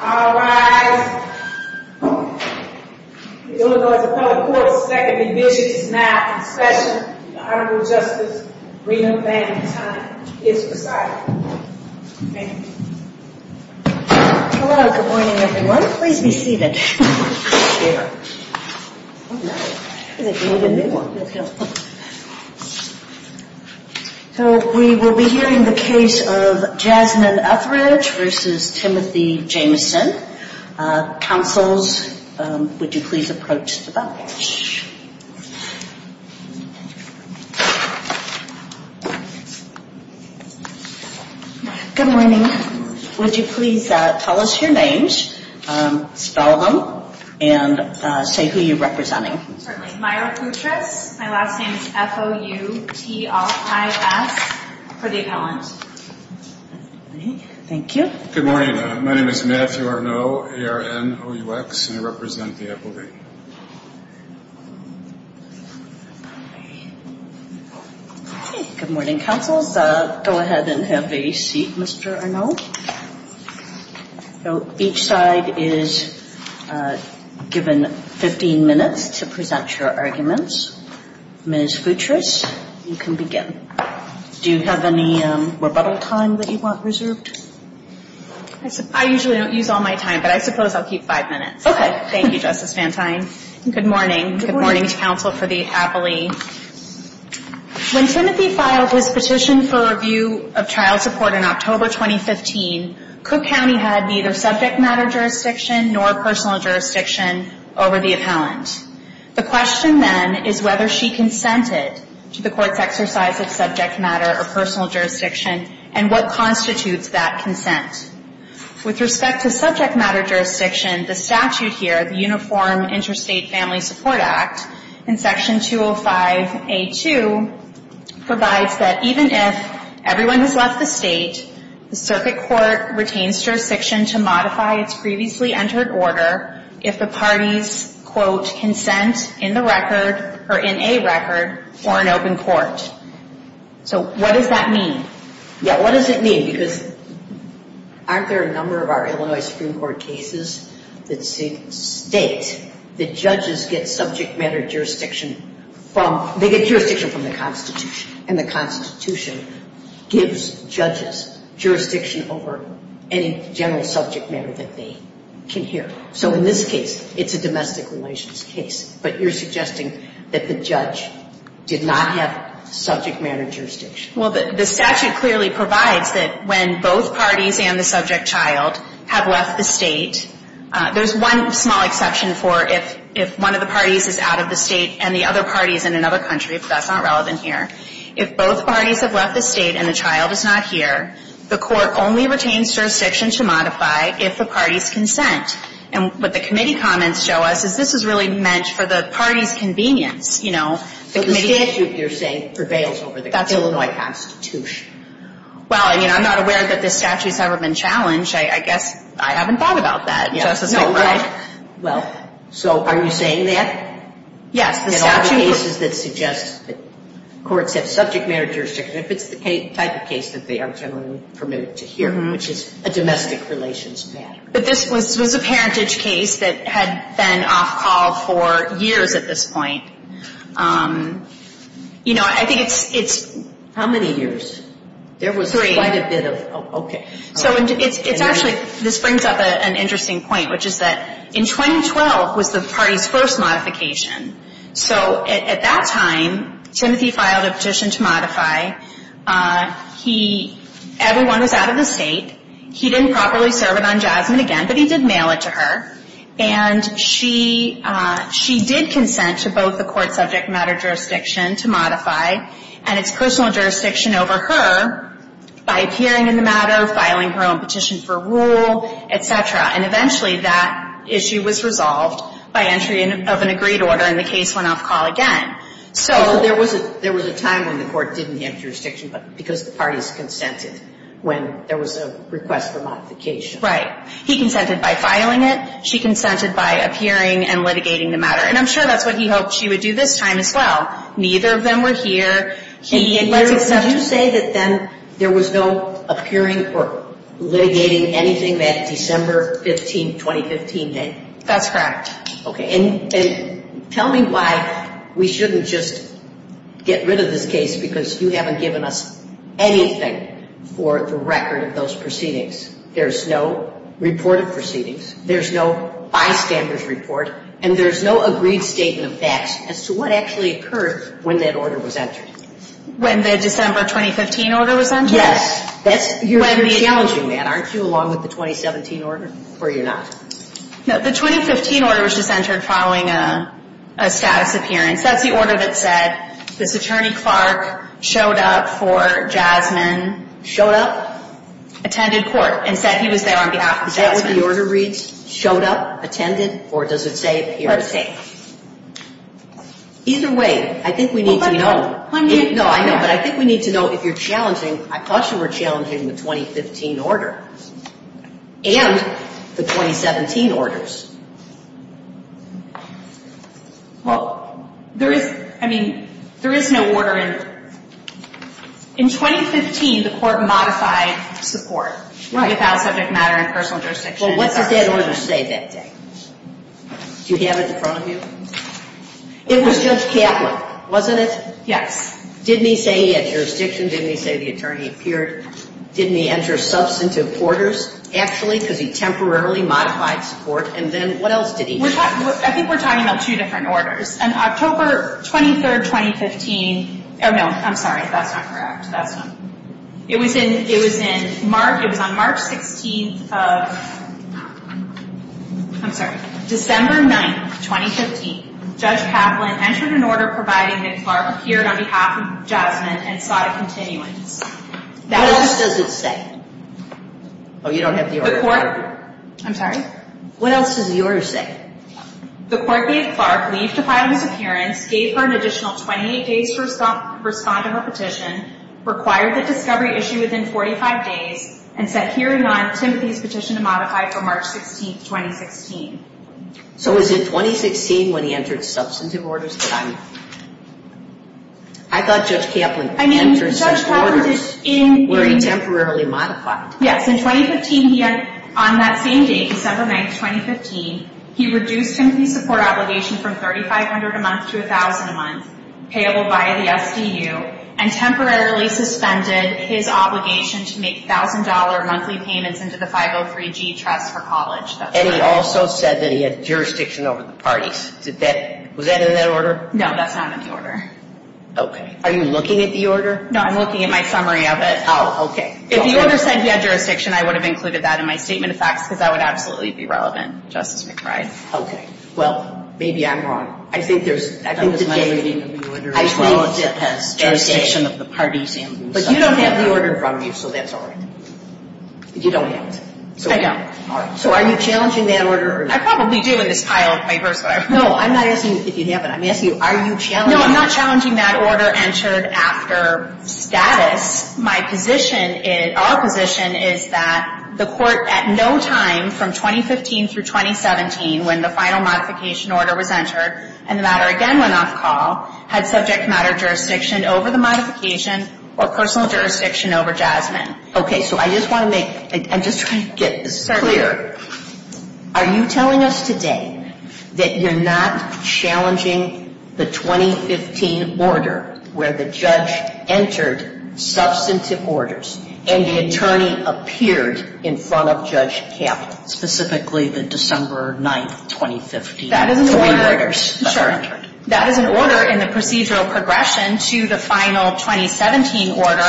Alright, it looks like the public court will second the decision to now present the Honorable Justice Breedon-Sanderson case to the trial. Thank you. Hello, good morning everyone. Please be seated. So we will be hearing the case of Jasmine Upridge v. Timothy Jamison. Counsel, would you please approach the bench. Good morning. Would you please tell us your names, spell them, and say who you are representing. My last name is F-O-U-P-R-I-D-E-N. Thank you. Good morning. My name is Matthew Arnault, A-R-N-O-U-X, and I represent the F-O-B. Good morning, counsel. Go ahead and have a seat, Mr. Arnault. So each side is given 15 minutes to present your arguments. Ms. Futris, you can begin. Do you have any rebuttal time that you want reserved? I usually don't use all my time, but I suppose I'll keep five minutes. Okay. Thank you, Justice Santine. Good morning. Good morning, counsel for the appellee. When Timothy filed his petition for review of child support in October 2015, Cook County had neither subject matter jurisdiction nor personal jurisdiction over the appellant. The question then is whether she consented to the court's exercise of subject matter or personal jurisdiction, and what constitutes that consent. With respect to subject matter jurisdiction, the statute here, the Uniform Interstate Family Support Act, in Section 205A.2, provides that even if everyone has left the state, the circuit court retains jurisdiction to modify its previously entered order if the parties, quote, consent in the record or in a record for an open court. So what does that mean? Yeah, what does it mean? Aren't there a number of our Illinois Supreme Court cases that state that judges get subject matter jurisdiction from the Constitution? And the Constitution gives judges jurisdiction over any general subject matter that they can hear. So in this case, it's a domestic relations case. But you're suggesting that the judge did not have subject matter jurisdiction. Well, the statute clearly provides that when both parties and the subject child have left the state, there's one small exception for if one of the parties is out of the state and the other party is in another country, because that's not relevant here. If both parties have left the state and the child is not here, the court only retains jurisdiction to modify if the parties consent. And what the committee comments show us is this is really meant for the parties' convenience. But the issue, you're saying, prevails over the Illinois Constitution. Well, you know, I'm not aware that this statute's ever been challenged. I guess I haven't thought about that. No, right. Well, so are we saying that? Yes. There are cases that suggest that courts get subject matter jurisdiction if it's the type of case that they are generally permitted to hear, which is a domestic relations matter. But this was a parentage case that had been off-call for years at this point. You know, I think it's – How many years? Three. Oh, okay. So it's actually – this brings up an interesting point, which is that in 2012 was the party's first modification. So at that time, Timothy filed a position to modify. Everyone was out of the state. He didn't properly serve it on Jasmine again, but he did mail it to her. And she did consent to both the court subject matter jurisdiction to modify and its personal jurisdiction over her by appearing in the matter, filing her own petition for rule, et cetera. And eventually that issue was resolved by entry of an agreed order, and the case went off-call again. So there was a time when the court didn't have jurisdiction, but because the parties consented when there was a request for modification. Right. He consented by filing it. She consented by appearing and litigating the matter. And I'm sure that's what he hoped she would do this time as well. Neither of them were here. He said that then there was no appearing for litigating anything that December 15, 2015 meant. That's correct. Okay. And tell me why we shouldn't just get rid of this case, because you haven't given us anything for the record of those proceedings. There's no reported proceedings. There's no bystander's report. And there's no agreed statement of facts as to what actually occurred when that order was entered. When the December 2015 order was entered? Yes. You're challenging that, aren't you, along with the 2017 order? Or you're not? No, the 2015 order was just entered following a status appearance. That's the order that said this attorney, Clark, showed up for Jasmine, showed up, attended court, and said he was there on behalf of Jasmine. Is that what the order reads, showed up, attended, or does it say appear safe? Either way, I think we need to know. I think we need to know. I know, but I think we need to know if you're challenging, I thought you were challenging the 2015 order and the 2017 orders. Well, there is, I mean, there is no order. In 2015, the court modified the court without subject matter and personal jurisdiction. Well, what did that order say that day? Do you have it in front of you? It was just Catholic, wasn't it? Yes. Didn't he say he had jurisdiction? Didn't he say the attorney appeared? Didn't he enter substantive orders? Actually, could he temporarily modify the court? And then what else did he do? I think we're talking about two different orders. On October 23rd, 2015, or no, I'm sorry, that's not correct. It was in March. It was on March 16th of, I'm sorry, December 9th, 2015, Judge Kaplan entered an order providing that Clark appeared on behalf of Jasmine and sought a continuity. What else does it say? Oh, you don't have the order? The court, I'm sorry? What else does the order say? The court gave Clark leave to file his appearance, gave her an additional 28 days to respond to her petition, required the discovery issue within 45 days, and set hearing on Simpson's petition to modify for March 16th, 2016. So it was in 2016 when he entered substantive orders for them? I thought Judge Kaplan entered substantive orders. I mean, Judge Kaplan is in. Was he temporarily modified? Yes. In 2015, he had, on that same day, December 9th, 2015, he reduced Timothy's support obligation from $3,500 a month to $1,000 a month, payable by the FDU, and temporarily suspended his obligation to make $1,000 monthly payments into the 503G trust for college. And he also said that he had jurisdiction over the parties. Was that in that order? No, that's not in the order. Okay. Are you looking at the order? No, I'm looking at my summary of it. Oh, okay. If the order said he had jurisdiction, I would have included that in my statement of facts, because that would absolutely be relevant, Justice McBride. Okay. Well, maybe I'm wrong. I think there's something in the order as well. I think it has jurisdiction of the parties. But you don't have the order from me, so that's all right. You don't have it. I don't. So are you challenging that order? I probably do in this pile of papers. No, I'm not asking if you have it. I'm asking are you challenging it? No, I'm not challenging that order entered after status. My position is, our position is that the court at no time from 2015 to 2017, when the final modification order was entered, and the matter again went off the call, had subject matter jurisdiction over the modification or personal jurisdiction over Jasmine. Okay. So I just want to make, I'm just trying to get this clear. Are you telling us today that you're not challenging the 2015 order where the judge entered substantive orders and the attorney appeared in front of Judge Kaplan, specifically the December 9th, 2015. That is an order in the procedural progression to the final 2017 order.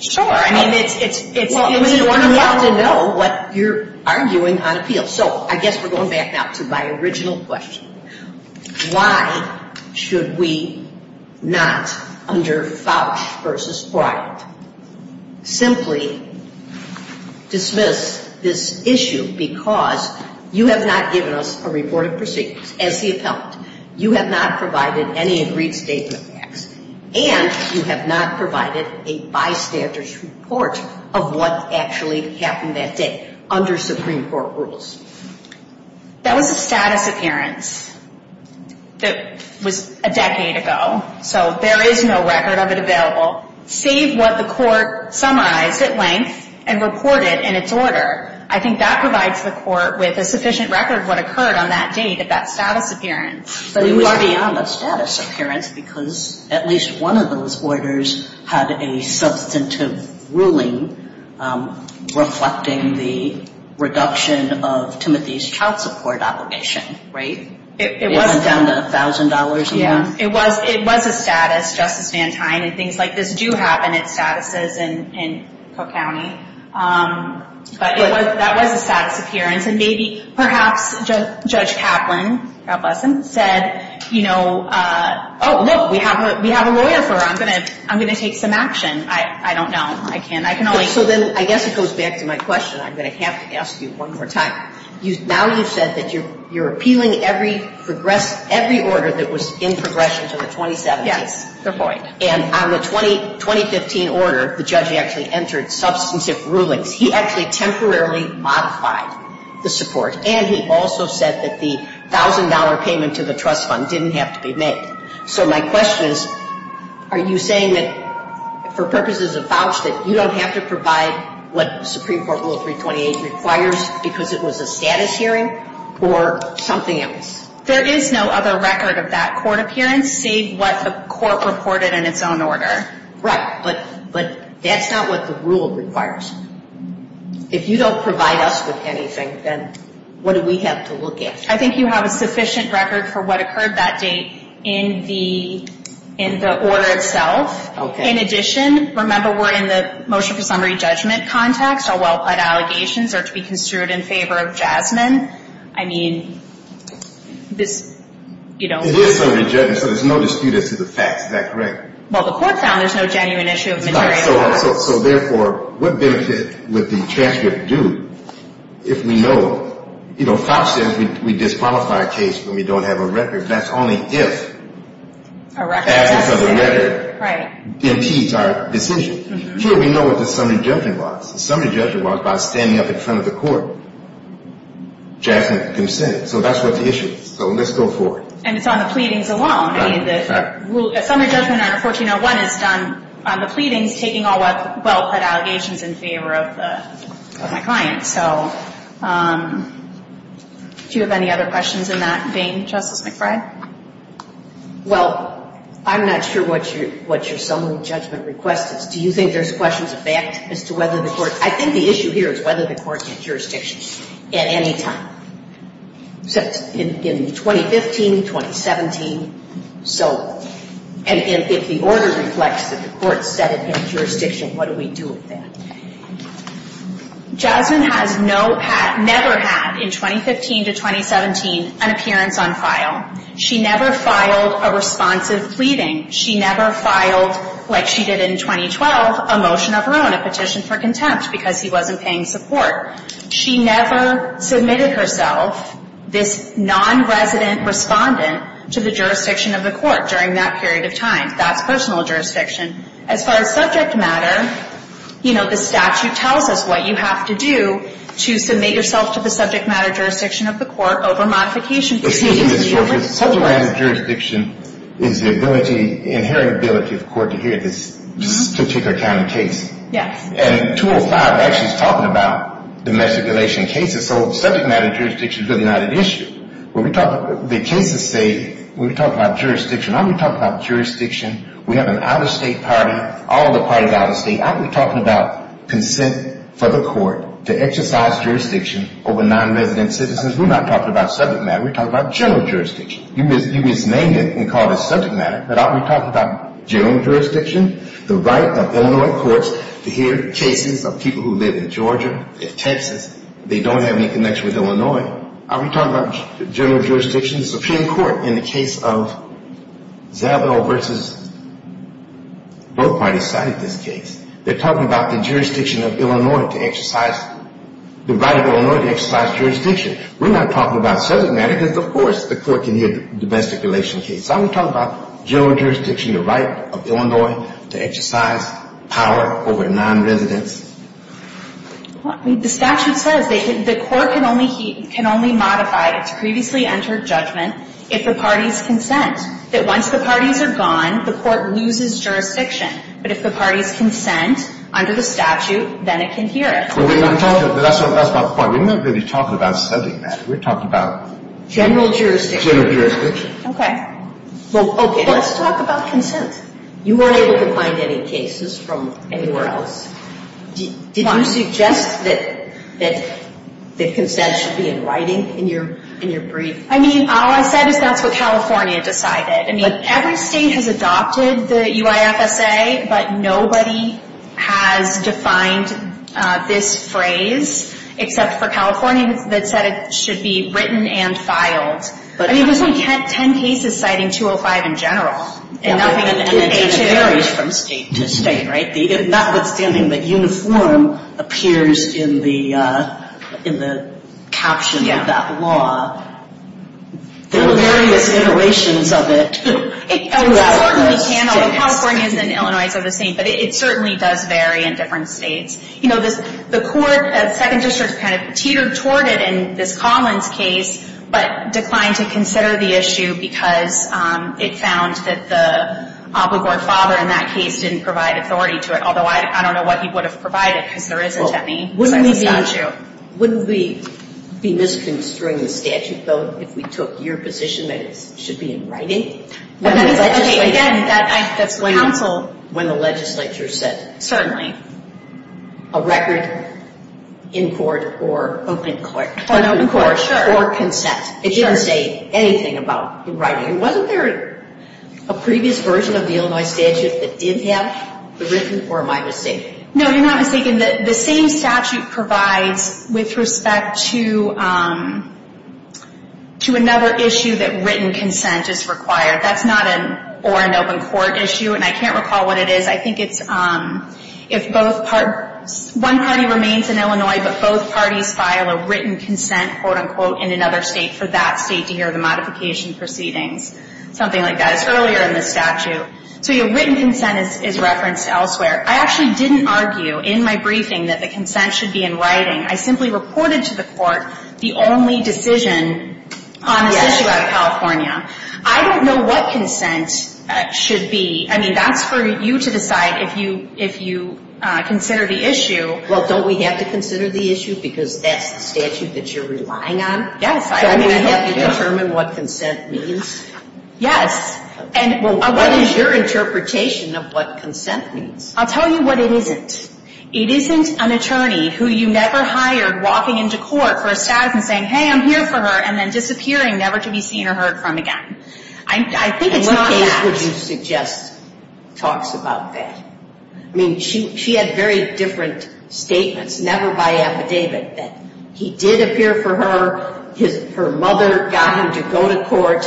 Sure. I mean, it's one way to know what you're arguing on a field. So I guess we're going back now to my original question. Why should we not, under Fauch v. Bryant, simply dismiss this issue because you have not given a report of proceedings. As the appellant, you have not provided any agreed statement. And you have not provided a bystander's report of what actually happened that day under Supreme Court rules. That was a status appearance that was a decade ago. So there is no record of it available. See what the court summarized at length and reported in its order. I think that provides the court with a sufficient record of what occurred on that date at that status appearance. But you are beyond a status appearance because at least one of those orders had a substantive ruling reflecting the reduction of Timothy's child support obligation. Right? It wasn't down to $1,000. Yeah. It was a status, Justice Van Hine. And things like this do happen at statuses in Cook County. But that was a status appearance. And maybe perhaps Judge Kaplan said, you know, oh, look, we have a lawyer for her. I'm going to take some action. I don't know. I can't. So then I guess it goes back to my question that I have to ask you one more time. Now you said that you are appealing every order that was in progress since 2017. And on the 2015 order, the judge actually entered substantive ruling. He actually temporarily modified the support. And he also said that the $1,000 payment to the trust fund didn't have to be made. So my question is, are you saying that for purposes of vouching, you don't have to provide what the Supreme Court Rule 328 requires because it was a status hearing or something else? There is no other record of that court appearance, save what the court reported in its own order. Right. But that's not what the rule requires. If you don't provide us with anything, then what do we have to look at? I think you have a sufficient record for what occurred that day in the order itself. Okay. In addition, remember we're in the motion for summary judgment context. So while allegations are to be construed in favor of Jasmine, I mean, you know. The motion for summary judgment, so there's no dispute as to the fact. Is that correct? Well, the court found there's no genuine issue of material. So therefore, what basis would the transcript do if we know, you know, if we disqualify a case when we don't have a record, that's only if the record impedes our decision. Here we know what the summary judgment was. The summary judgment was by standing up in front of the court, Jasmine's consent. So that's what the issue is. So let's go forward. And it's on the pleadings alone. I mean, the summary judgment at 1401 is done on the pleadings, taking all the well-said allegations in favor of the client. So do you have any other questions in that vein, Justice McBride? Well, I'm not sure what your summary judgment request is. Do you think there's a question of the fact as to whether the court – I think the issue here is whether the court gets jurisdiction at any time. In 2015, 2017. So, and if the order reflects that the court set it in jurisdiction, what do we do with that? Jasmine has never had, in 2015 to 2017, an appearance on file. She never filed a responsive pleading. She never filed, like she did in 2012, a motion of her own, a petition for contempt because she wasn't paying support. She never submitted herself, this non-resident respondent, to the jurisdiction of the court during that period of time, that personal jurisdiction. As far as subject matter, you know, the statute tells us what you have to do to submit yourself to the subject matter jurisdiction of the court over modification. Subject matter jurisdiction is the ability, inherent ability of the court to hear this particular kind of case. And 205 actually is talking about domestic relation cases, so subject matter jurisdiction is an united issue. When we talk about the case estate, when we talk about jurisdiction, when we talk about jurisdiction, we have an out-of-state party, all the parties are out-of-state. I'm talking about consent for the court to exercise jurisdiction over non-resident citizens. We're not talking about subject matter. We're talking about general jurisdiction. You can name it and call it subject matter, but I'm talking about general jurisdiction, the right of Illinois courts to hear the cases of people who live in Georgia, in Texas, they don't have any connection with Illinois. I'm talking about general jurisdiction, the Supreme Court in the case of Jabell v. Brookway decided this case. They're talking about the jurisdiction of Illinois to exercise, the right of Illinois to exercise jurisdiction. We're not talking about subject matter because, of course, the court can hear domestic relation cases. I'm talking about general jurisdiction, the right of Illinois to exercise power over non-residents. The statute says that the court can only modify its previously entered judgment if the parties consent, that once the parties are gone, the court loses jurisdiction, but if the parties consent under the statute, then it can hear it. That's my point. We're not really talking about subject matter. We're talking about general jurisdiction. Okay. Let's talk about consent. You weren't able to find any cases from anywhere else. Did you suggest that the consent should be in writing in your brief? I said it's up to California to decide it. Every state has adopted the UISFA, but nobody has defined this phrase except for California that said it should be It was only 10 cases citing 205 in general. It varies from state to state, right? Notwithstanding that uniform appears in the caption of that law. There are various iterations of it. California and Illinois are the same, but it certainly does vary in different states. The court, as Second District, kind of teetered toward it in this Collins case, but declined to consider the issue because it sounds that the Alcoburg father in that case didn't provide authority to it, although I don't know what he would have provided because there isn't any second district statute. Wouldn't we be missing this during the statute, though, if we took your position that it should be in writing? Again, I said counsel when the legislature said it. A record in court or open court. Open court, sure. Or consent. It didn't say anything about writing. Wasn't there a previous version of the Illinois statute that did have it? Or am I mistaken? No, you're not mistaken. The same statute provides with respect to another issue that written consent is required. That's not an or another court issue, and I can't recall what it is. One party remains in Illinois, but both parties file a written consent in another state for that state to hear the modification proceedings. Something like that. It's earlier in the statute. So your written consent is referenced elsewhere. I actually didn't argue in my briefing that the consent should be in writing. I simply reported to the court the only decision on the issue out of California. I don't know what consent should be. I mean, that's for you to decide if you consider the issue. Well, don't we have to consider the issue because that's the issue that you're relying on? Yes. I mean, we have to determine what consent means. Yes. And what is your interpretation of what consent means? I'll tell you what it isn't. It isn't an attorney who you never hired walking into court for a statute and saying, hey, I'm here for her, and then disappearing never to be seen or heard from again. I think it's that. And what would you suggest talks about that? I mean, she had various different statements, never by affidavit, that he did appear for her, her mother got him to go to court.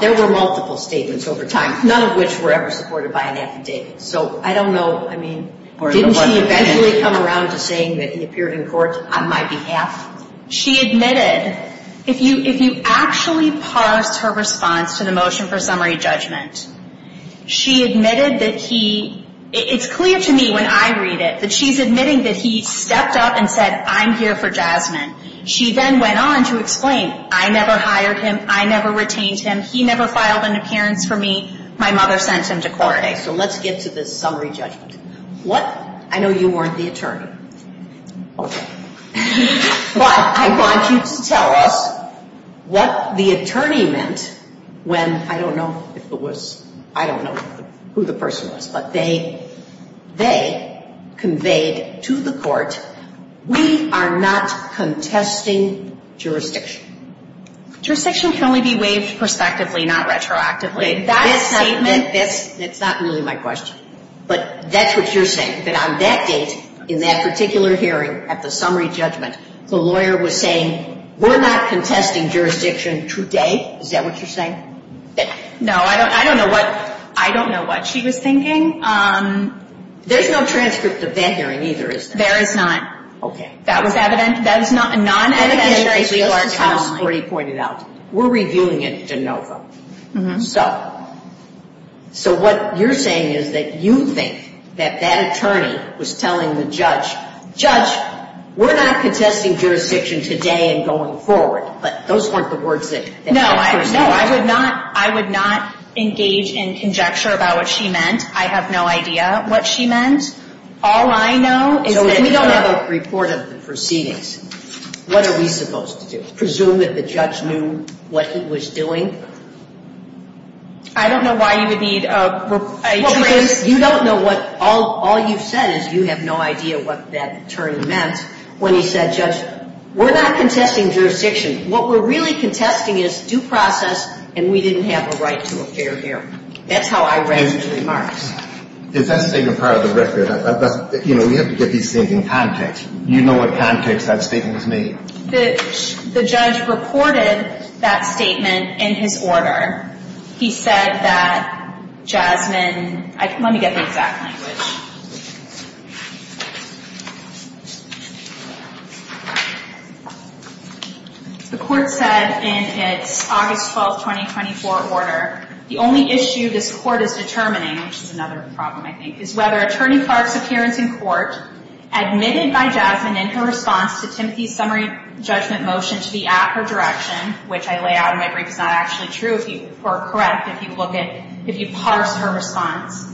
There were multiple statements over time, none of which were ever supported by an affidavit. So I don't know. Didn't he eventually come around to saying that he appeared in court on my behalf? She admitted, if you actually parse her response to the motion for summary judgment, she admitted that he, it's clear to me when I read it, that she's admitting that he stepped up and said, I'm here for Jasmine. She then went on to explain, I never hired him, I never retained him, he never filed an appearance for me, my mother sent him to court. Okay, so let's get to the summary judgment. What? I know you weren't the attorney. Okay. But I want you to tell us what the attorney meant when, I don't know if it was, I don't know who the person was, but they conveyed to the court, we are not contesting jurisdiction. Jurisdiction can only be waived prospectively, not retroactively. Okay, that statement, that's not really my question, but that's what you're saying, that on that case, in that particular hearing, at the summary judgment, the lawyer was saying, we're not contesting jurisdiction today? Is that what you're saying? No, I don't know what she was thinking. There's no transcripts of that hearing either, is there? There is not. Okay. That was evidence. That is not a non-educational argument. We're reviewing it to know. So what you're saying is that you think that that attorney was telling the judge, judge, we're not contesting jurisdiction today and going forward. But those weren't the words. No, I would not engage in conjecture about what she meant. I have no idea what she meant. All I know is that we don't have a report of the proceedings. What are we supposed to do? Presume that the judge knew what he was doing? I don't know why you would need a report. Well, because you don't know what all you've said is you have no idea what that attorney meant when you said, judge, we're not contesting jurisdiction. What we're really contesting is due process, and we didn't have the right to a fair hearing. That's how I read your remarks. It doesn't take a part of the record. You know, we have to get these things in context. Do you know what context that statement was made? The judge reported that statement in his order. He said that Jasmine – let me get the exact language. The court said in its August 12, 2024 order, the only issue this court is determining, which is another problem I think, is whether Attorney Clark's appearance in court, admitted by Jasmine in her response to Timothy's summary judgment motion to be at her direction, which I lay out in my brief is not actually true or correct if you parse her response,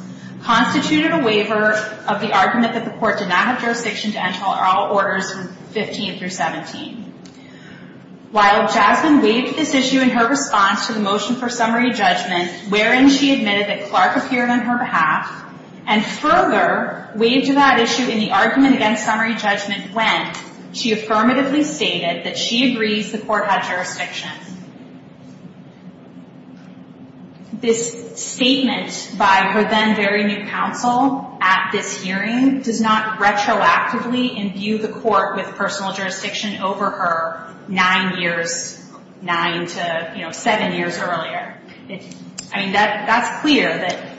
constituted a waiver of the argument that the court did not have jurisdiction to end all orders 15 through 17. While Jasmine waived this issue in her response to the motion for summary judgment, wherein she admitted that Clark appeared on her behalf, and further waived that issue in the argument against summary judgment when she affirmatively stated that she agrees the court has jurisdiction. This statement by her then very new counsel at this hearing does not retroactively imbue the court with personal jurisdiction over her nine years, nine to seven years earlier. I mean, that's clear that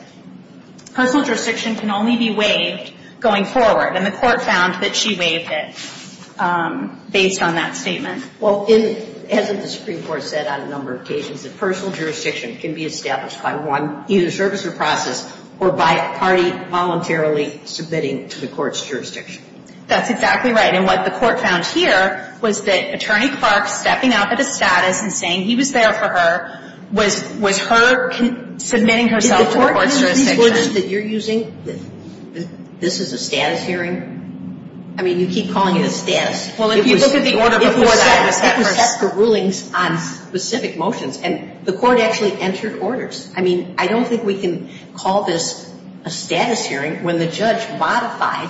personal jurisdiction can only be waived going forward, and the court found that she waived it based on that statement. Well, as the Supreme Court said on a number of cases, personal jurisdiction can be established by one, either service or process, or by a party voluntarily submitting it to the court's jurisdiction. That's exactly right. And what the court found here was that Attorney Clark stepping out of the status and saying he was there for her was her submitting herself to the court's jurisdiction. Did the court notice that you're using this as a status hearing? I mean, you keep calling it a status. Well, if you look at the order before that, that's for rulings on specific motions, and the court actually entered orders. I mean, I don't think we can call this a status hearing when the judge modified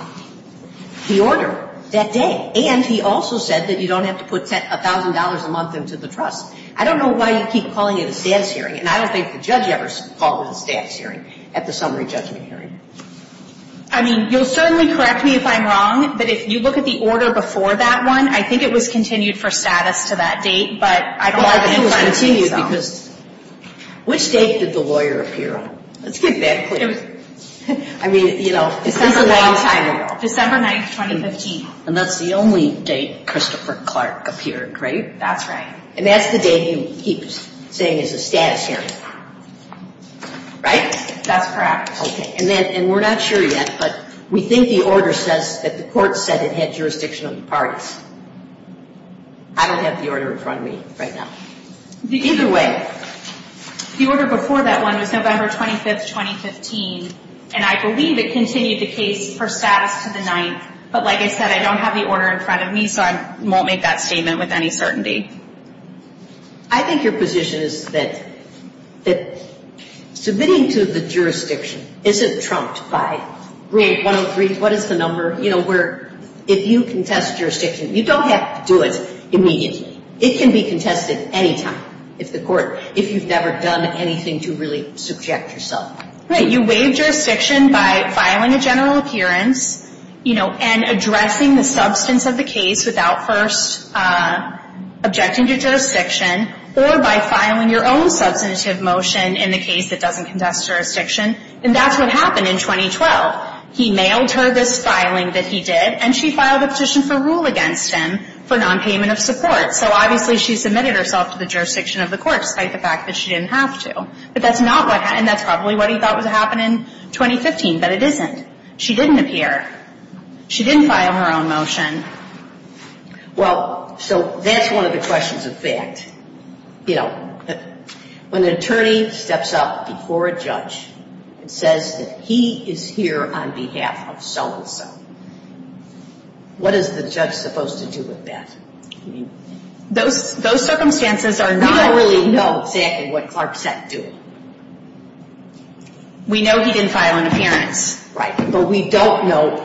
the order that day, and he also said that you don't have to put $1,000 a month into the trust. I don't know why you keep calling it a status hearing, and I don't think the judge ever called it a status hearing at the summary judgment hearing. I mean, you'll certainly correct me if I'm wrong, but if you look at the order before that one, I think it was continued for status to that date, but I think it was continued because which date did the lawyer appear on? That's a good question. I mean, you know, it's a long time ago. December 9, 2015. And that's the only date Christopher Clark appeared, right? That's right. And that's the date he was saying is a status hearing, right? That's correct. Okay, and we're not sure yet, but we think the order says that the court said it had jurisdiction of the parties. I don't have the order in front of me right now. Either way, the order before that one was November 25, 2015, and I believe it continued the case for status to the 9th, but like I said, I don't have the order in front of me, so I won't make that statement with any certainty. I think your position is that submitting to the jurisdiction, is it trumped by RAGE 103? What is the number, you know, where if you contest jurisdiction, you don't have to do it immediately. It can be contested anytime if the court, if you've never done anything to really subject yourself. You waive jurisdiction by filing a general appearance, you know, and addressing the substance of the case without first objecting to jurisdiction or by filing your own substantive motion in the case that doesn't contest jurisdiction. And that's what happened in 2012. He mailed her this filing that he did, and she filed a petition for rule against him for non-payment of support. So obviously she submitted herself to the jurisdiction of the court despite the fact that she didn't have to. But that's not what happened. That's probably what he thought would happen in 2015, but it isn't. She didn't appear. She didn't file her own motion. Well, so that's one of the questions of fact. You know, when an attorney steps up before a judge and says that he is here on behalf of so-and-so, what is the judge supposed to do with that? Those circumstances are not really known exactly what Clark sent to him. We know he didn't file an appearance, right, but we don't know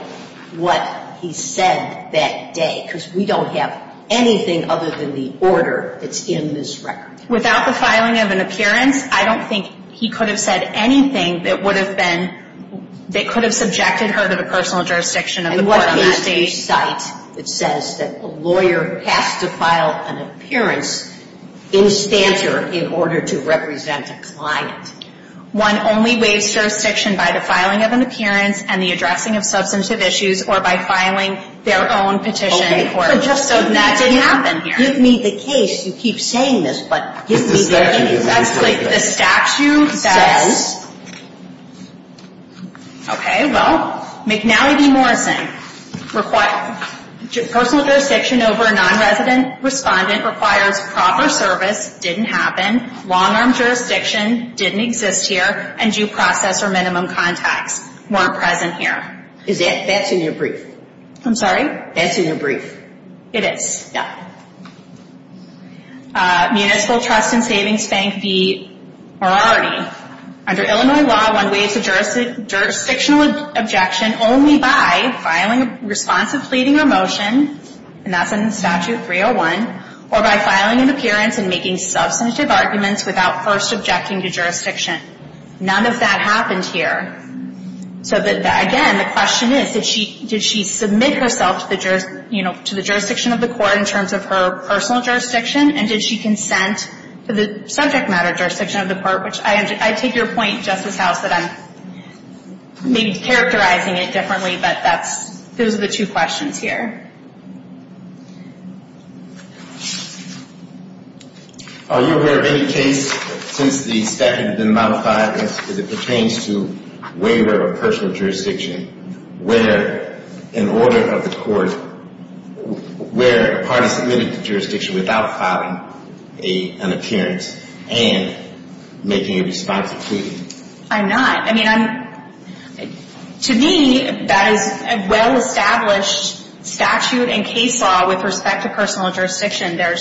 what he said that day because we don't have anything other than the order that's in this record. Without the filing of an appearance, I don't think he could have said anything that could have subjected her to the personal jurisdiction of the court. And what is the site that says that a lawyer has to file an appearance in stature in order to represent a client? One only waives jurisdiction by the filing of an appearance and the addressing of substantive issues or by filing their own petition in court. So that didn't happen here. Give me the case. You keep saying this, but give me the case. The statute says, okay, well, McNally v. Morrison, personal jurisdiction over a non-resident respondent required proper service, didn't happen, long-arm jurisdiction, didn't exist here, and due process or minimum contact weren't present here. Is that in your brief? I'm sorry? That's in your brief. It is, yeah. Municipal Trust and Savings Bank v. Morality. Under Illinois law, one waives a jurisdictional objection only by filing responsive pleading or motion, and that's in Statute 301, or by filing an appearance and making substantive arguments without first objecting to jurisdiction. None of that happened here. Again, the question is, did she submit herself to the jurisdiction of the court in terms of her personal jurisdiction, and did she consent to the subject matter jurisdiction of the court? I take your point, Justice House, that I'm maybe characterizing it differently, but those are the two questions here. Are you aware of any case that has been modified that pertains to waiver of personal jurisdiction where in order of the court, where a person is in the jurisdiction without filing an appearance and making a responsive plea? I'm not. I mean, to me, that is a well-established statute and case law with respect to personal jurisdiction. None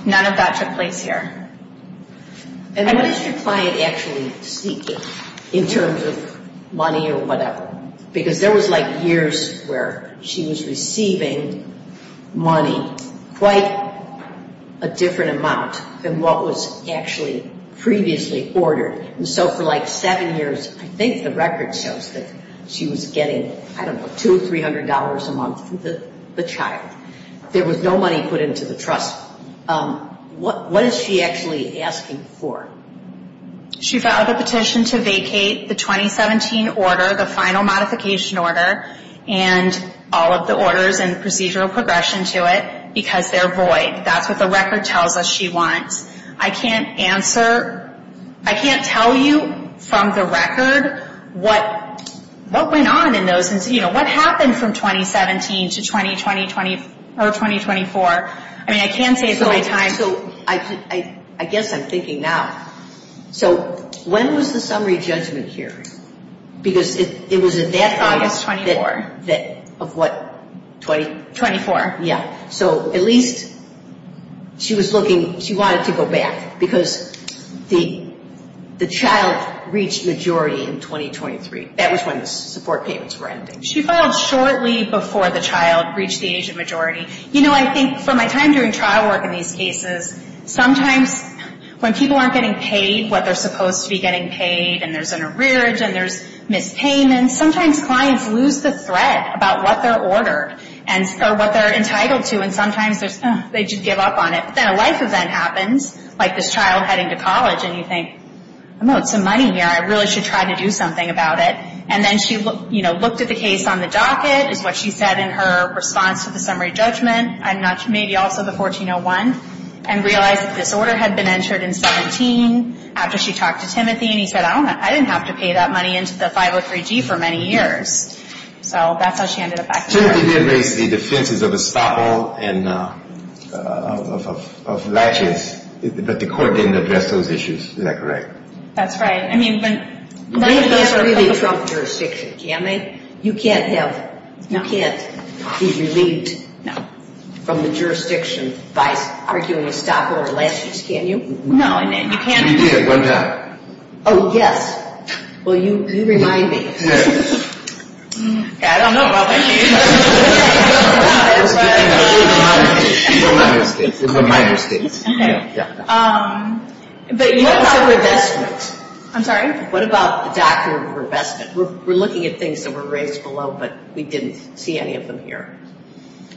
of that took place here. And what does your client actually seek in terms of money or whatever? Because there was like years where she was receiving money quite a different amount than what was actually previously ordered. And so for like seven years, I think the records show that she was getting, I don't know, $200 or $300 a month from the child. There was no money put into the trust. What is she actually asking for? She filed a petition to vacate the 2017 order, the final modification order, and all of the orders and procedural progression to it because they're void. That's what the record tells us she wants. I can't answer, I can't tell you from the record what went on in those, what happened from 2017 to 2020 or 2024. I mean, I can't say at the same time. So I guess I'm thinking now. So when was the summary judgment here? Because it was at that time that, of what, 20? 24. Yeah, so at least she was looking, she wanted to go back because the child reached majority in 2023. That is when the support payments were ending. She filed shortly before the child reached the Asian majority. You know, I think, from my time doing trial work in these cases, sometimes when people aren't getting paid what they're supposed to be getting paid, and there's an arrearage, and there's mispayment, sometimes clients lose the threat about what their order, or what they're entitled to, and sometimes they just give up on it. Then a life event happens, like this child heading to college, and you think, I know it's the money here, but I really should try to do something about it. And then she looked at the case on the docket, what she said in her response to the summary judgment, and maybe also the 1401, and realized the disorder had been entered in 17, after she talked to Timothy, and he said, I don't know, I didn't have to pay that money into the 503G for many years. So that's how she ended up back here. Timothy did raise the defenses of the spot hole and of latches, but the court didn't address those issues. Is that correct? That's right. I mean, when... You've never been in a trunk jurisdiction, can you? You can't have... No. You can't be relieved from the jurisdiction by arguing a spot hole or latches, can you? No. She did it one time. Oh, yes. Well, you remind me. I don't know about that. She's a liar. She's a liar. She's a liar. She's a liar. She's a liar. She's a liar. But what about revestment? I'm sorry? What about doctrine of revestment? We're looking at things that were raised below, but we didn't see any of them here.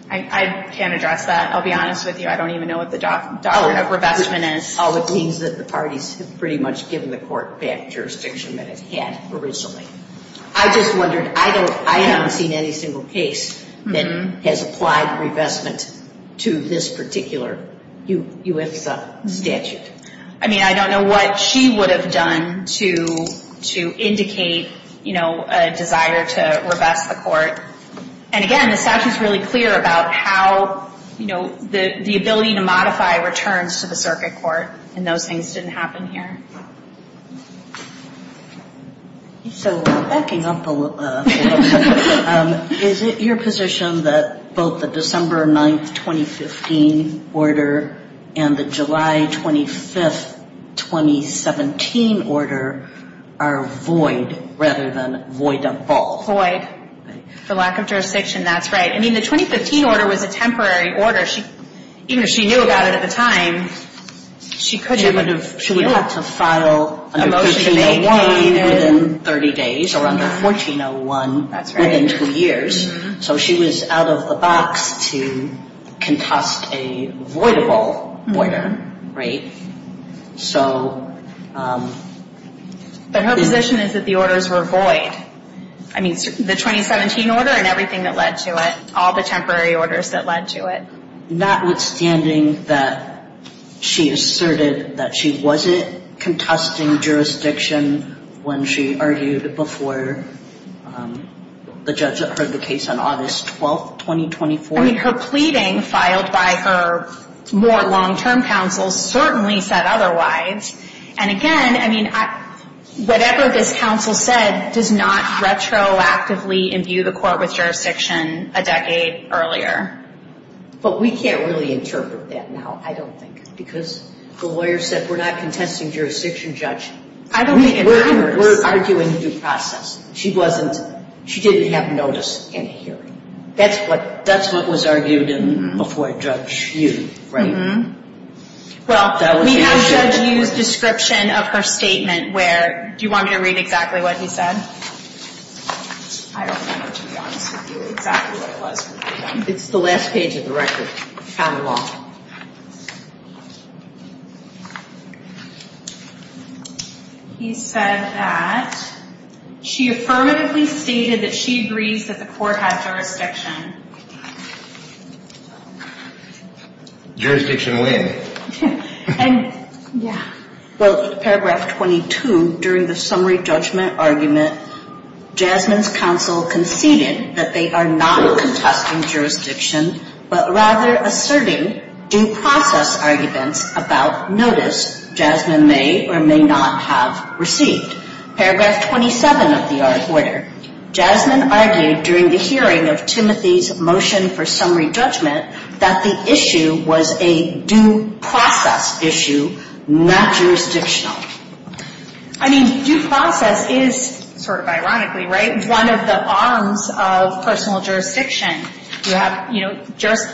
I can't address that. I'll be honest with you. I don't even know what the doctrine of revestment is. Well, it means that the parties have pretty much given the court the jurisdiction that it had originally. I'm just wondering, I have not seen any single case that has applied for revestment to this particular U.S. statute. I mean, I don't know what she would have done to indicate a desire to revest the court. And again, the statute's really clear about how the ability to modify returns to the circuit court, and those things didn't happen here. So, backing up a little bit, is it your position that both the December 9, 2015 order and the July 25, 2017 order are void, rather than void of vault? Void. For lack of jurisdiction, that's right. I mean, the 2015 order was a temporary order. Even if she knew about it at the time, she couldn't have... She would have to file under Section A1 within 30 days, or under 1401 within two years. So, she was out of the box to contest a void of vault order. So... But her position is that the orders were void. I mean, the 2017 order and everything that led to it, all the temporary orders that led to it. Notwithstanding that she asserted that she wasn't contesting jurisdiction when she argued before the judge that heard the case on August 12, 2024. I mean, her pleading filed by her more long-term counsel certainly said otherwise. And again, I mean, whatever this counsel said does not retroactively imbue the court with jurisdiction a decade earlier. But we can't really interpret that now, I don't think, because the lawyer said we're not contesting jurisdiction, Judge. I don't think it matters. We're arguing due process. She wasn't... She didn't have notice in hearing. That's what was argued before Judge Hughes, right? Well, we have Judge Hughes' description of her statement where... Do you want me to read exactly what he said? It's the last page of the record. It's kind of long. He said that she affirmatively stated that she agreed that the court had jurisdiction. Jurisdiction win. Yeah. Well, paragraph 22, during the summary judgment argument, Jasmine's counsel conceded that they are not contesting jurisdiction, but rather asserting due process arguments about notice Jasmine may or may not have received. Paragraph 27 of the order. Jasmine argued during the hearing of Timothy's motion for summary judgment that the issue was a due process issue, not jurisdictional. I mean, due process is, sort of ironically, right, one of the arms of personal jurisdiction. You have, you know,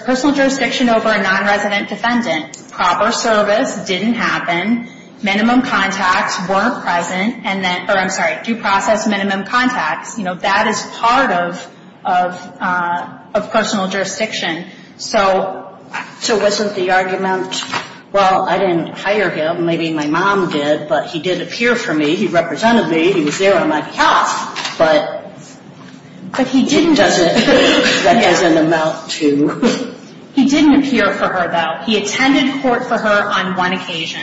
personal jurisdiction over a non-resident defendant. Proper service didn't happen. Minimum contacts weren't present and then, I'm sorry, due process, minimum contacts. You know, that is part of personal jurisdiction. So was it the argument, well, I didn't hire him, maybe my mom did, but he did appear for me, he represented me, he was there on that court, but he didn't appear as an amount to... He didn't appear for her, though. He attended court for her on one occasion.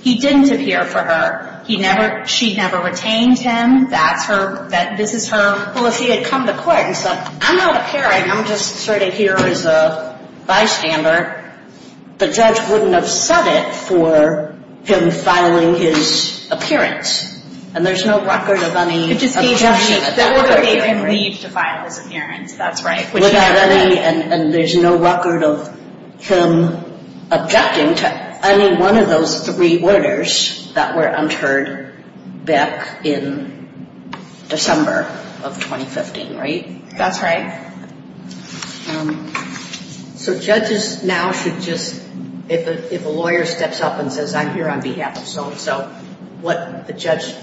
He didn't appear for her. She never retained him, that this is her... Well, if he had come to court and said, I'm not appearing, I'm just sort of here as a bystander, the judge wouldn't have said it for him filing his appearance. And there's no record of any objection at that point. He didn't even need to file his appearance, that's right. And there's no record of him objecting to any one of those three orders that were entered back in December of 2015, right? That's right. So judges now should just, if a lawyer steps up and says, I'm here on behalf of someone, so what the judge,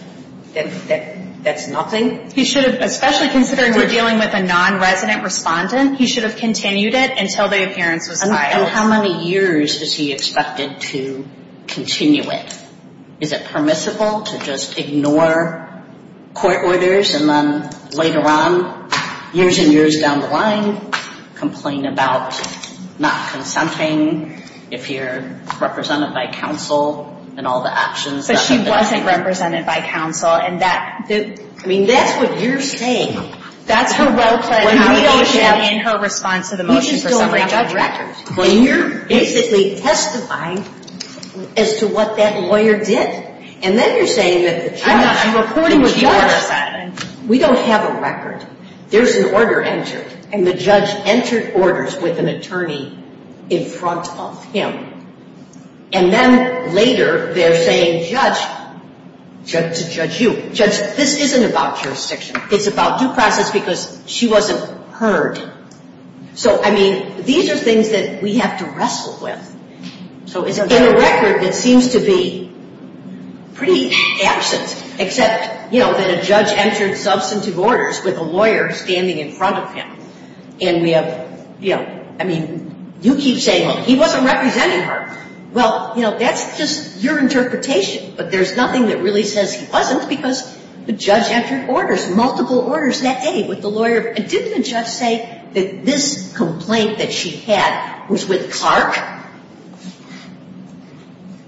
that's nothing? He should have, especially considering we're dealing with a non-resident respondent, he should have continued it until the appearance was filed. And how many years is he expected to continue it? Is it permissible to just ignore court orders and then later on, years and years down the line, complain about not consulting if you're represented by counsel and all the options. But she wasn't represented by counsel and that, I mean, that's what you're saying. That's her well-placed and her response to the motion for summary of the judge records. But you're basically testifying as to what that lawyer did. And then you're saying that the judge, according to you, we don't have a record. There's an order entered and the judge entered orders with an attorney in front of him. And then later, they're saying, judge, this isn't about jurisdiction. It's about due process because she wasn't heard. So, I mean, these are things that we have to wrestle with. So, it's a record that seems to be pretty absent. Except, you know, that a judge entered substantive orders with a lawyer standing in front of him. And we have, you know, I mean, you keep saying, he wasn't represented her. Well, you know, that's just your interpretation. But there's nothing that really says he wasn't because the judge entered orders, multiple orders that day with the lawyer. And didn't the judge say that this complaint that she had was with Clark?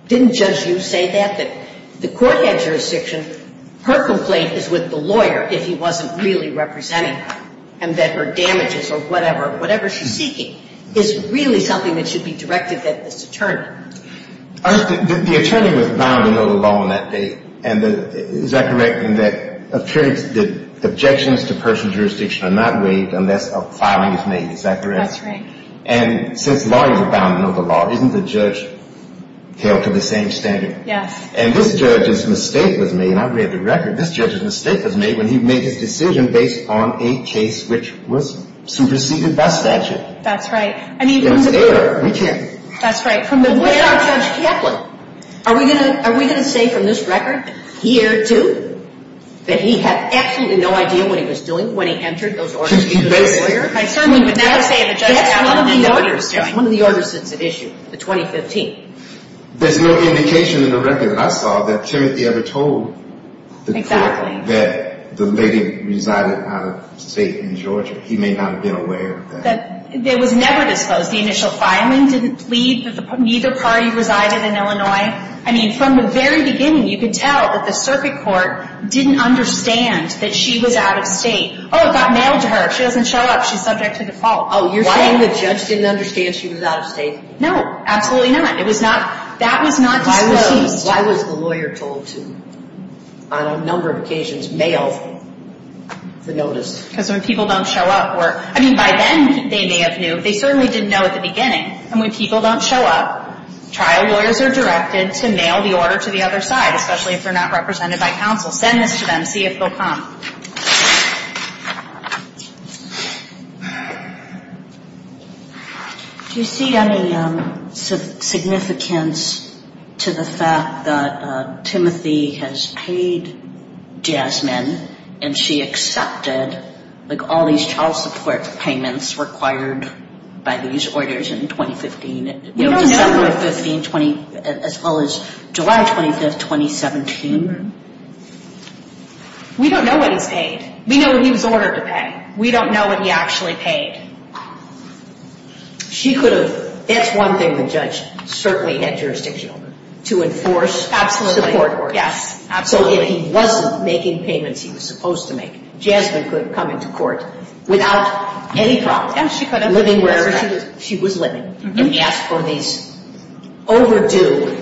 Didn't judge you say that? But the court had jurisdiction. Her complaint is with the lawyer that he wasn't really represented her and that her damages or whatever she's seeking is really something that should be directed at this attorney. The attorney was not in the middle of the law in that case. And is that correct in that the objections to person's jurisdiction are not raised unless a filing is made. Is that correct? That's right. And since lawyers are bound to know the law, didn't the judge care to the same standard? Yes. And this judge's mistake was made, I read the record, this judge's mistake was made when he made his decision based on a case which was superseded by statute. That's right. I mean, we can't do that. That's right. But what about Judge Kaplan? Are we going to say from this record he erred too? That he had absolutely no idea what he was doing when he entered those orders One of the orders that's been issued, the 2015. There's no indication in the record that I saw that Timothy ever told the court that the lady resided out of state in Georgia. He may not have been aware of that. They would never disclose the initial filing, didn't plead, neither party resided in Illinois. I mean, from the very beginning you can tell that the circuit court didn't understand that she was out of state. Oh, it got mailed to her. She doesn't show up. She's subject to default. Oh, you're saying the judge didn't understand she was out of state? No, absolutely not. That was not Why was the lawyer told to, on a number of occasions, mail the notice? Because when people don't show up for it, I mean, by then they may have knew. They certainly didn't know at the beginning. And when people don't show up, trial lawyers are directed to mail the order to the other side, especially if they're not represented by counsel. Send this to them. See if they'll come. Do you see any significance to the fact that Timothy has paid Jasmine and she accepted all these child support payments required by these orders in 2015 as well as July 25th, 2017? We don't know what he paid. We know he was ordered to pay. We don't know what he actually paid. She could have, if one thing, the judge, certainly had jurisdiction to enforce the court order. So if he wasn't making payments he was supposed to make, Jasmine could have come into court without any problem living wherever she was living for these overdue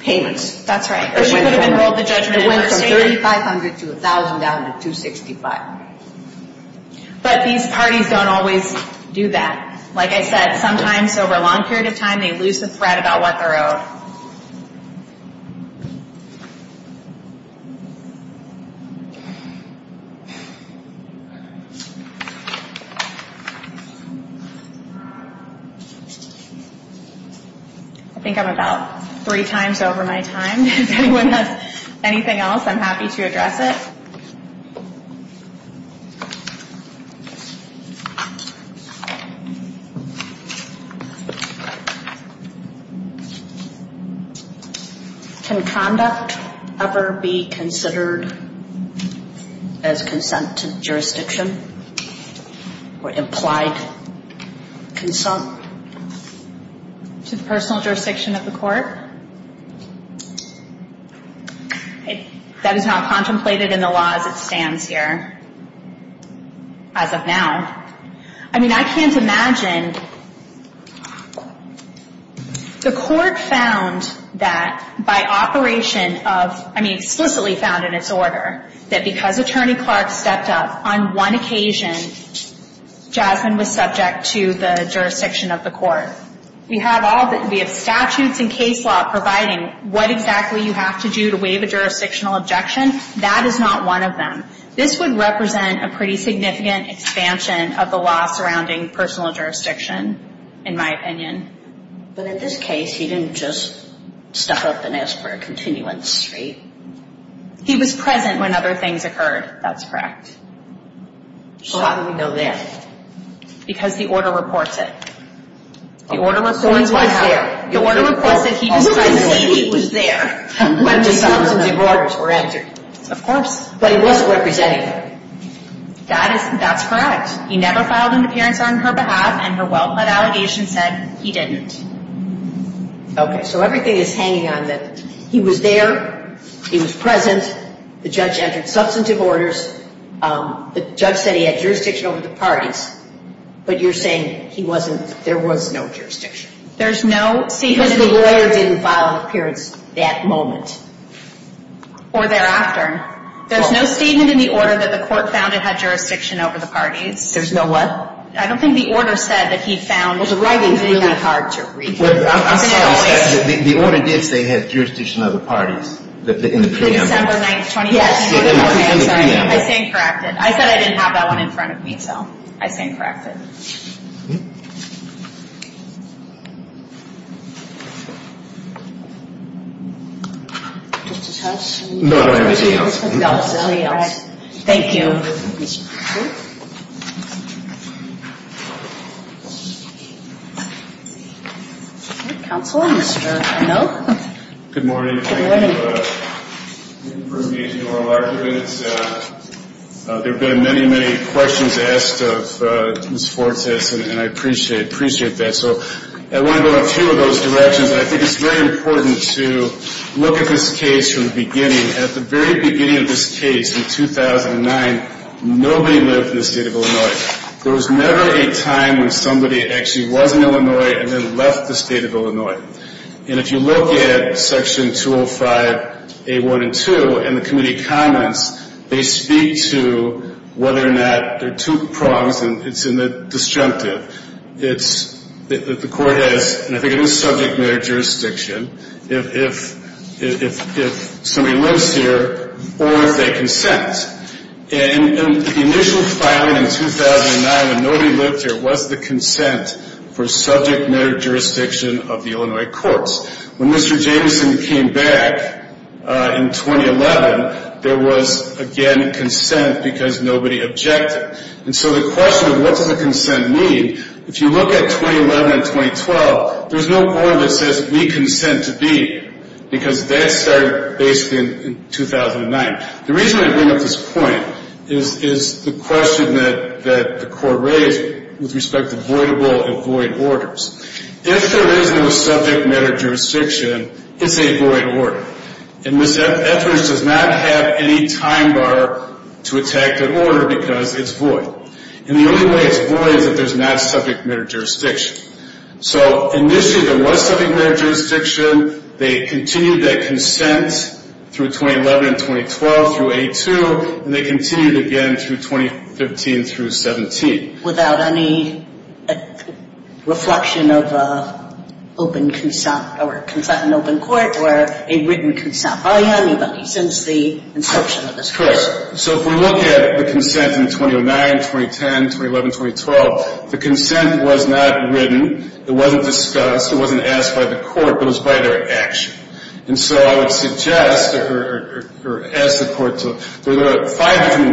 payments. That's right. It went from $3,500 to $1,000 at $265. But because sometimes his committees don't always do that. Like I said, sometimes over a long period of time they lose the spread about what they're owed. I think I'm about three times over my time. If anyone has anything else I'm happy to address it. Can conduct ever be considered as consent to jurisdiction or implied consent to personal jurisdiction of the court? That is not contemplated in the law as it stands here. As of now. I mean, I can't imagine the court found that by operation of, I mean, explicitly found in its order that because Attorney Clark stepped up on one occasion Jasmine was subject to the jurisdiction of the court. You have all the statutes and case law providing what exactly you have to do to waive a jurisdictional objection. That is not one of them. This would represent a pretty significant expansion of the law surrounding personal jurisdiction, in my opinion. But in this case he didn't just step up and ask for a continuance straight. He was present when other things occurred, that's correct. So how do we know that? Because the order reports it. The order reports what? The order reports that he was present and he was there when the charges and the orders were entered. Of course. But he wasn't represented. That's correct. He never filed an appearance on her behalf and her well-led allegation said he didn't. Okay, so everything is hanging on this. He was there, he was present, the judge entered substantive orders, the judge said he had jurisdiction over the parties, but you're saying he wasn't, there was no jurisdiction. There's no statement in the order that the court found he had jurisdiction over the parties. There's no what? I don't think the order said that he found that he had jurisdiction over the parties. The order did say he had over the parties in the preamble. I said I didn't have that one in front of me though. I think that's correct. Okay, so I want to go in two of those directions. I think it's very important to look at this case from the beginning. At the very beginning of this case in 2009, nobody lived in the state of Illinois. There was never a time when somebody actually was in Illinois and then left the state of Illinois. And if you look at section 205 A1 and 2 in the state of has subject matter jurisdiction if somebody lives here or they consent. And the initial filing in 2009 and nobody lived here was the consent for subject matter jurisdiction of the Illinois courts. When Mr. Jameson came back in 2011, there was again consent because nobody objected. So the question is what does the consent mean? If you look at 2011 and 2012, there is no point in consent because that started in 2009. The reason I bring up this point is the question that the state with respect to voidable and void orders. If there is no subject matter jurisdiction, it is a void order. It does not have any time mark to attack the order because it is a void The only way to avoid it is not subject matter jurisdiction. Initially there was subject matter jurisdiction. continued that through 2011 and 2012 and continued through 2015 through 2017. It any reflection of an open court or written consent. If we look at the consent in 2009, 2010, 2011, 2012, the consent was not written. It was not in the consent The consent was not in the consent form. It was not in the consent form. It was not in the consent form. If you read the statute, it is not there. I would respectfully suggest that if you read in language in the it is not there. I would like to point out that the request was for a continuous response to the pending motion to modify. At the same time, entered substantive rulings with that standing there. The court found in his order that this not in the consent form. The found that this was not in the consent form. The court found that this was not in the consent form. The court found applies orders without prejudice to retroactively or not. Respondents shall pay 1,000 per month child support 28 days to answer the pleading or petition to revise or review child support and petitioners to determine the amount. I can't read what four says. this within 45 days. Respondents shall 1,000 per month 28 days to answer the pleading or petition to support Respondents shall 1,000 answer the pleading or petition to review child petitioners to review child support and petitioners to petitioners to insist the case equals consent in open court. MS. the child court would make a signing that nearly a perception to waive or consent. So that's what we're doing. We're not talking about what else he may have because I was not arguing that consented judges the said that by standing up and asking for a continuance that's waiving. We don't need a transcript for that, do we? I would have to disagree because I think we have to decide about the 2015. I think we have to decide what happened that day when the court entered these orders and we have this record that we entered these I think that's a question before us, too. So I'm just saying that there's also this question of whether this alone, this order by Judge Capra, does that follow this statute? Was this the case pointed out that this other statute says if you just come in, you don't file a cleaning, you're not asking for relief, that under 301 you can contest jurisdiction later. So I mean, there's a culpable problem. So even if Judge Capra cited an outdated case and his conclusion was just merely coming into court and asking for continuance equates to consent, that's not what happened here, right? I mean, there are because there are three orders on It's not just an it's an it. So does that action is that not right from the December 2015 hearing? I believe it is. And I think Judge Ewing in finding 12 noted that indirectly when he did not object to the 205, It's not. I agree. When we go back to the purpose of 205, it's a uniform interstate family support act. That's the whole purpose of this sort of statute. It's because we don't want courts in different states to be entering all sorts of different orders that could potentially be in with each other. In the 90s it was tied to funding from the federal government. states needed to get the parties in and out if they wanted to say file another state. In this case, there were no filings in any other state except Illinois. Do you see any significance to that? I do. It was one of my initial arguments that this court was the one court that was deciding the child support. I think it would be an entirely different case if for some reason they started a case here with nobody living here. That would be a different case. If we look at the statute, purpose of the statute is to unify the procedures that one state issued an order that was fulfilled by their actions in 2009 forward. So, this is consistent with the legislative attack the way the legislative attack was conducted in 2009. So, attack that was conducted in 2009. So, the parties consented well, really, going back to the very first case, the initial child support order operated as a consent as a result, just doesn't make sense under the statute. First of all, Timothy was temporarily residing with his parents and that's why she served him here the first time although she never resided here. The child support order was He filed the first modification in 2012 and she was the first first in I don't think this concept of an ongoing years-long consent is consistent with the statute. The only other thing I'll say quickly is that the subsection 201 which talks about an individual submitting to the jurisdiction of the state by its very language is only in a proceeding to establish or enforce a support order doesn't seem to contemplate that at all. So I don't don't with the state determine whether or not there was consent under the meaning of this statute. I would say on these facts you should find that she never submitted herself to the personal jurisdiction of the court. If you are inclined to that, then I would say that would require a remand because we have no idea what the circumstances surrounding all of that are. Do we have any knowledge of the circumstances of her mother getting this lawyer to appear and then the lawyer appeared and then she said he was there on her behalf and then he wasn't there on her behalf? Respectfully again, she never said that he represented her. The word wasn't represented. You can have that, but not the rest. My question is this. Even if she did ask me to go to court, was there going to personal jurisdiction? She wouldn't have submitted herself to the personal jurisdiction of the court because she would still not have waived her right to object to the jurisdiction of the court. Unless he filed an appearance and a response of pleading that day, for example. But she didn't. Thank you. It's going to be an interesting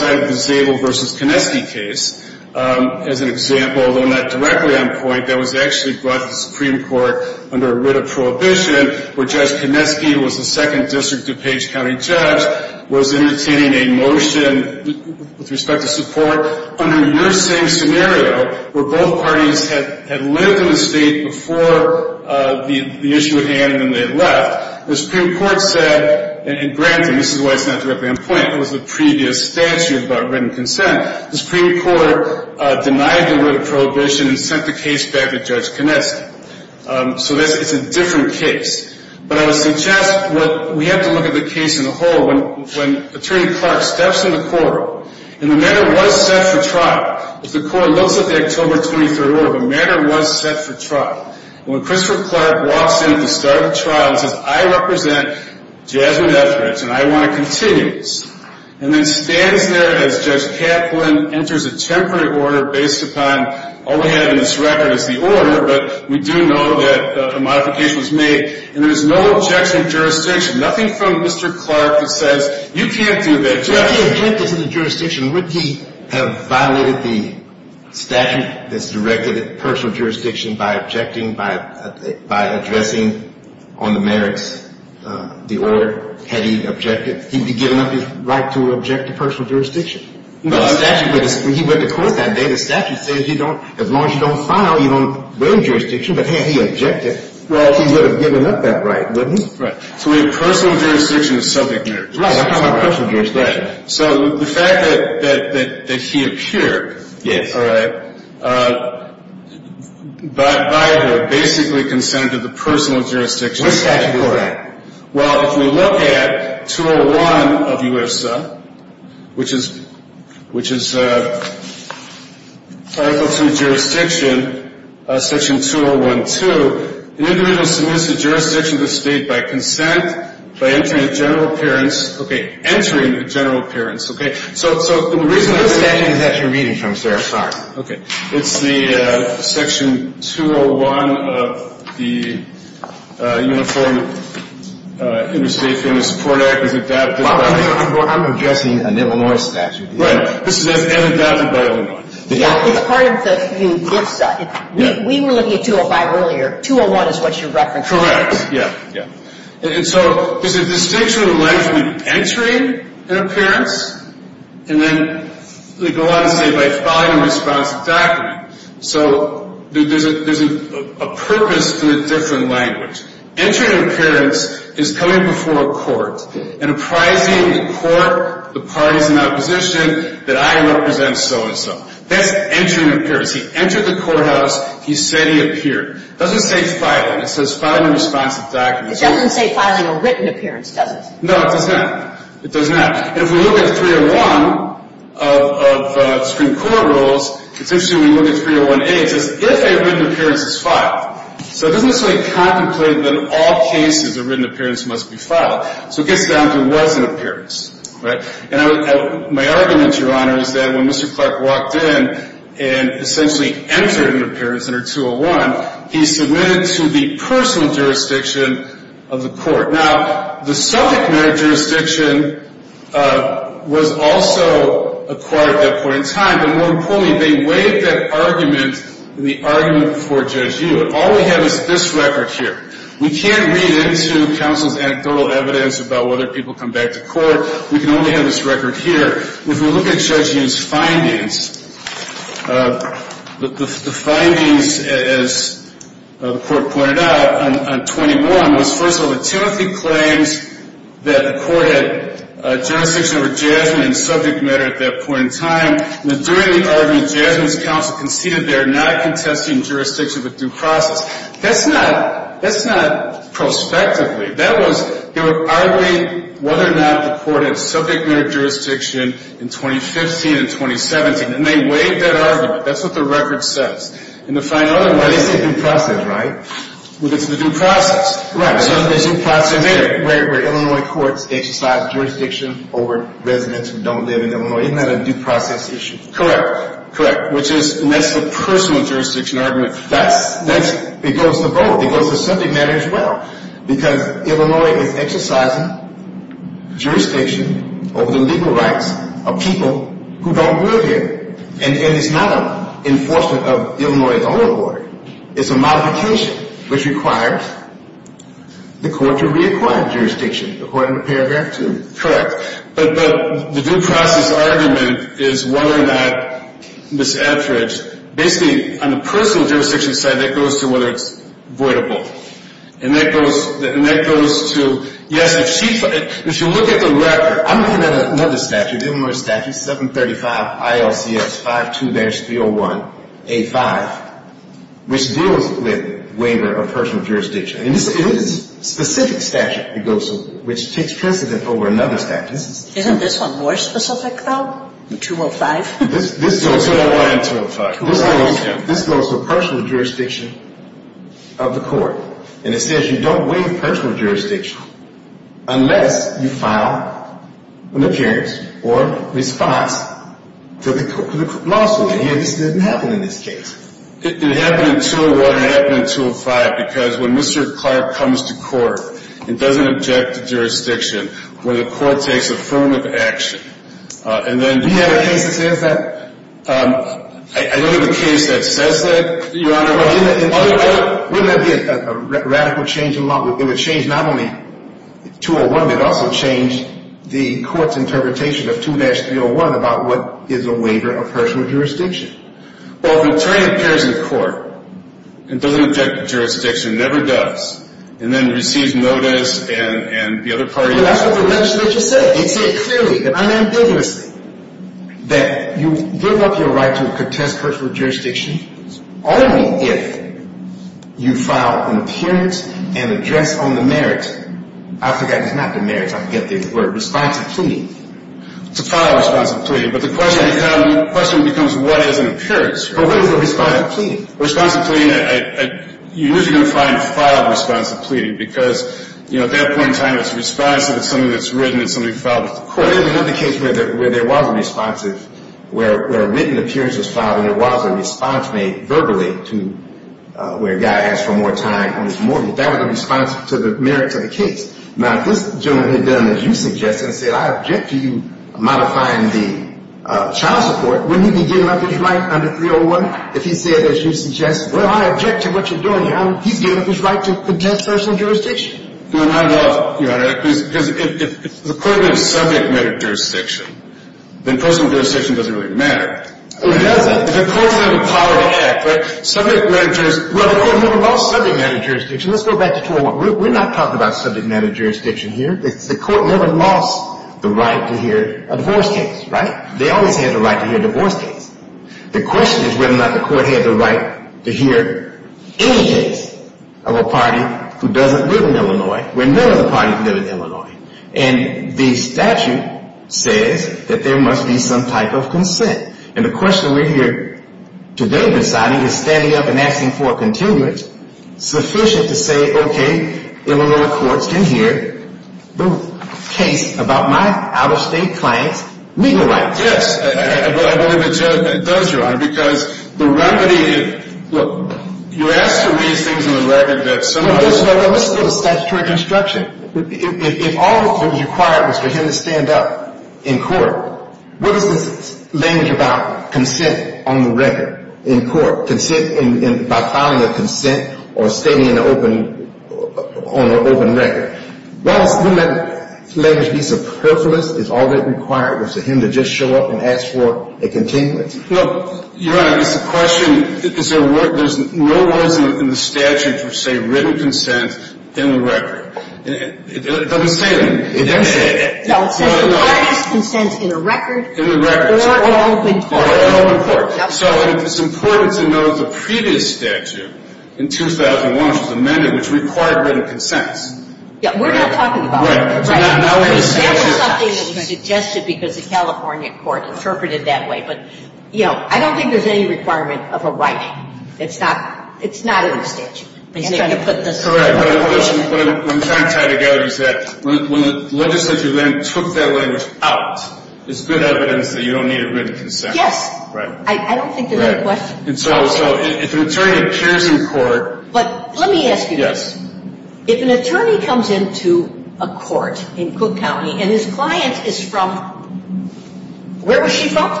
one.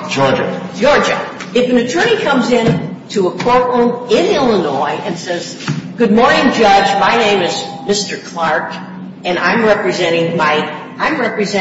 All right.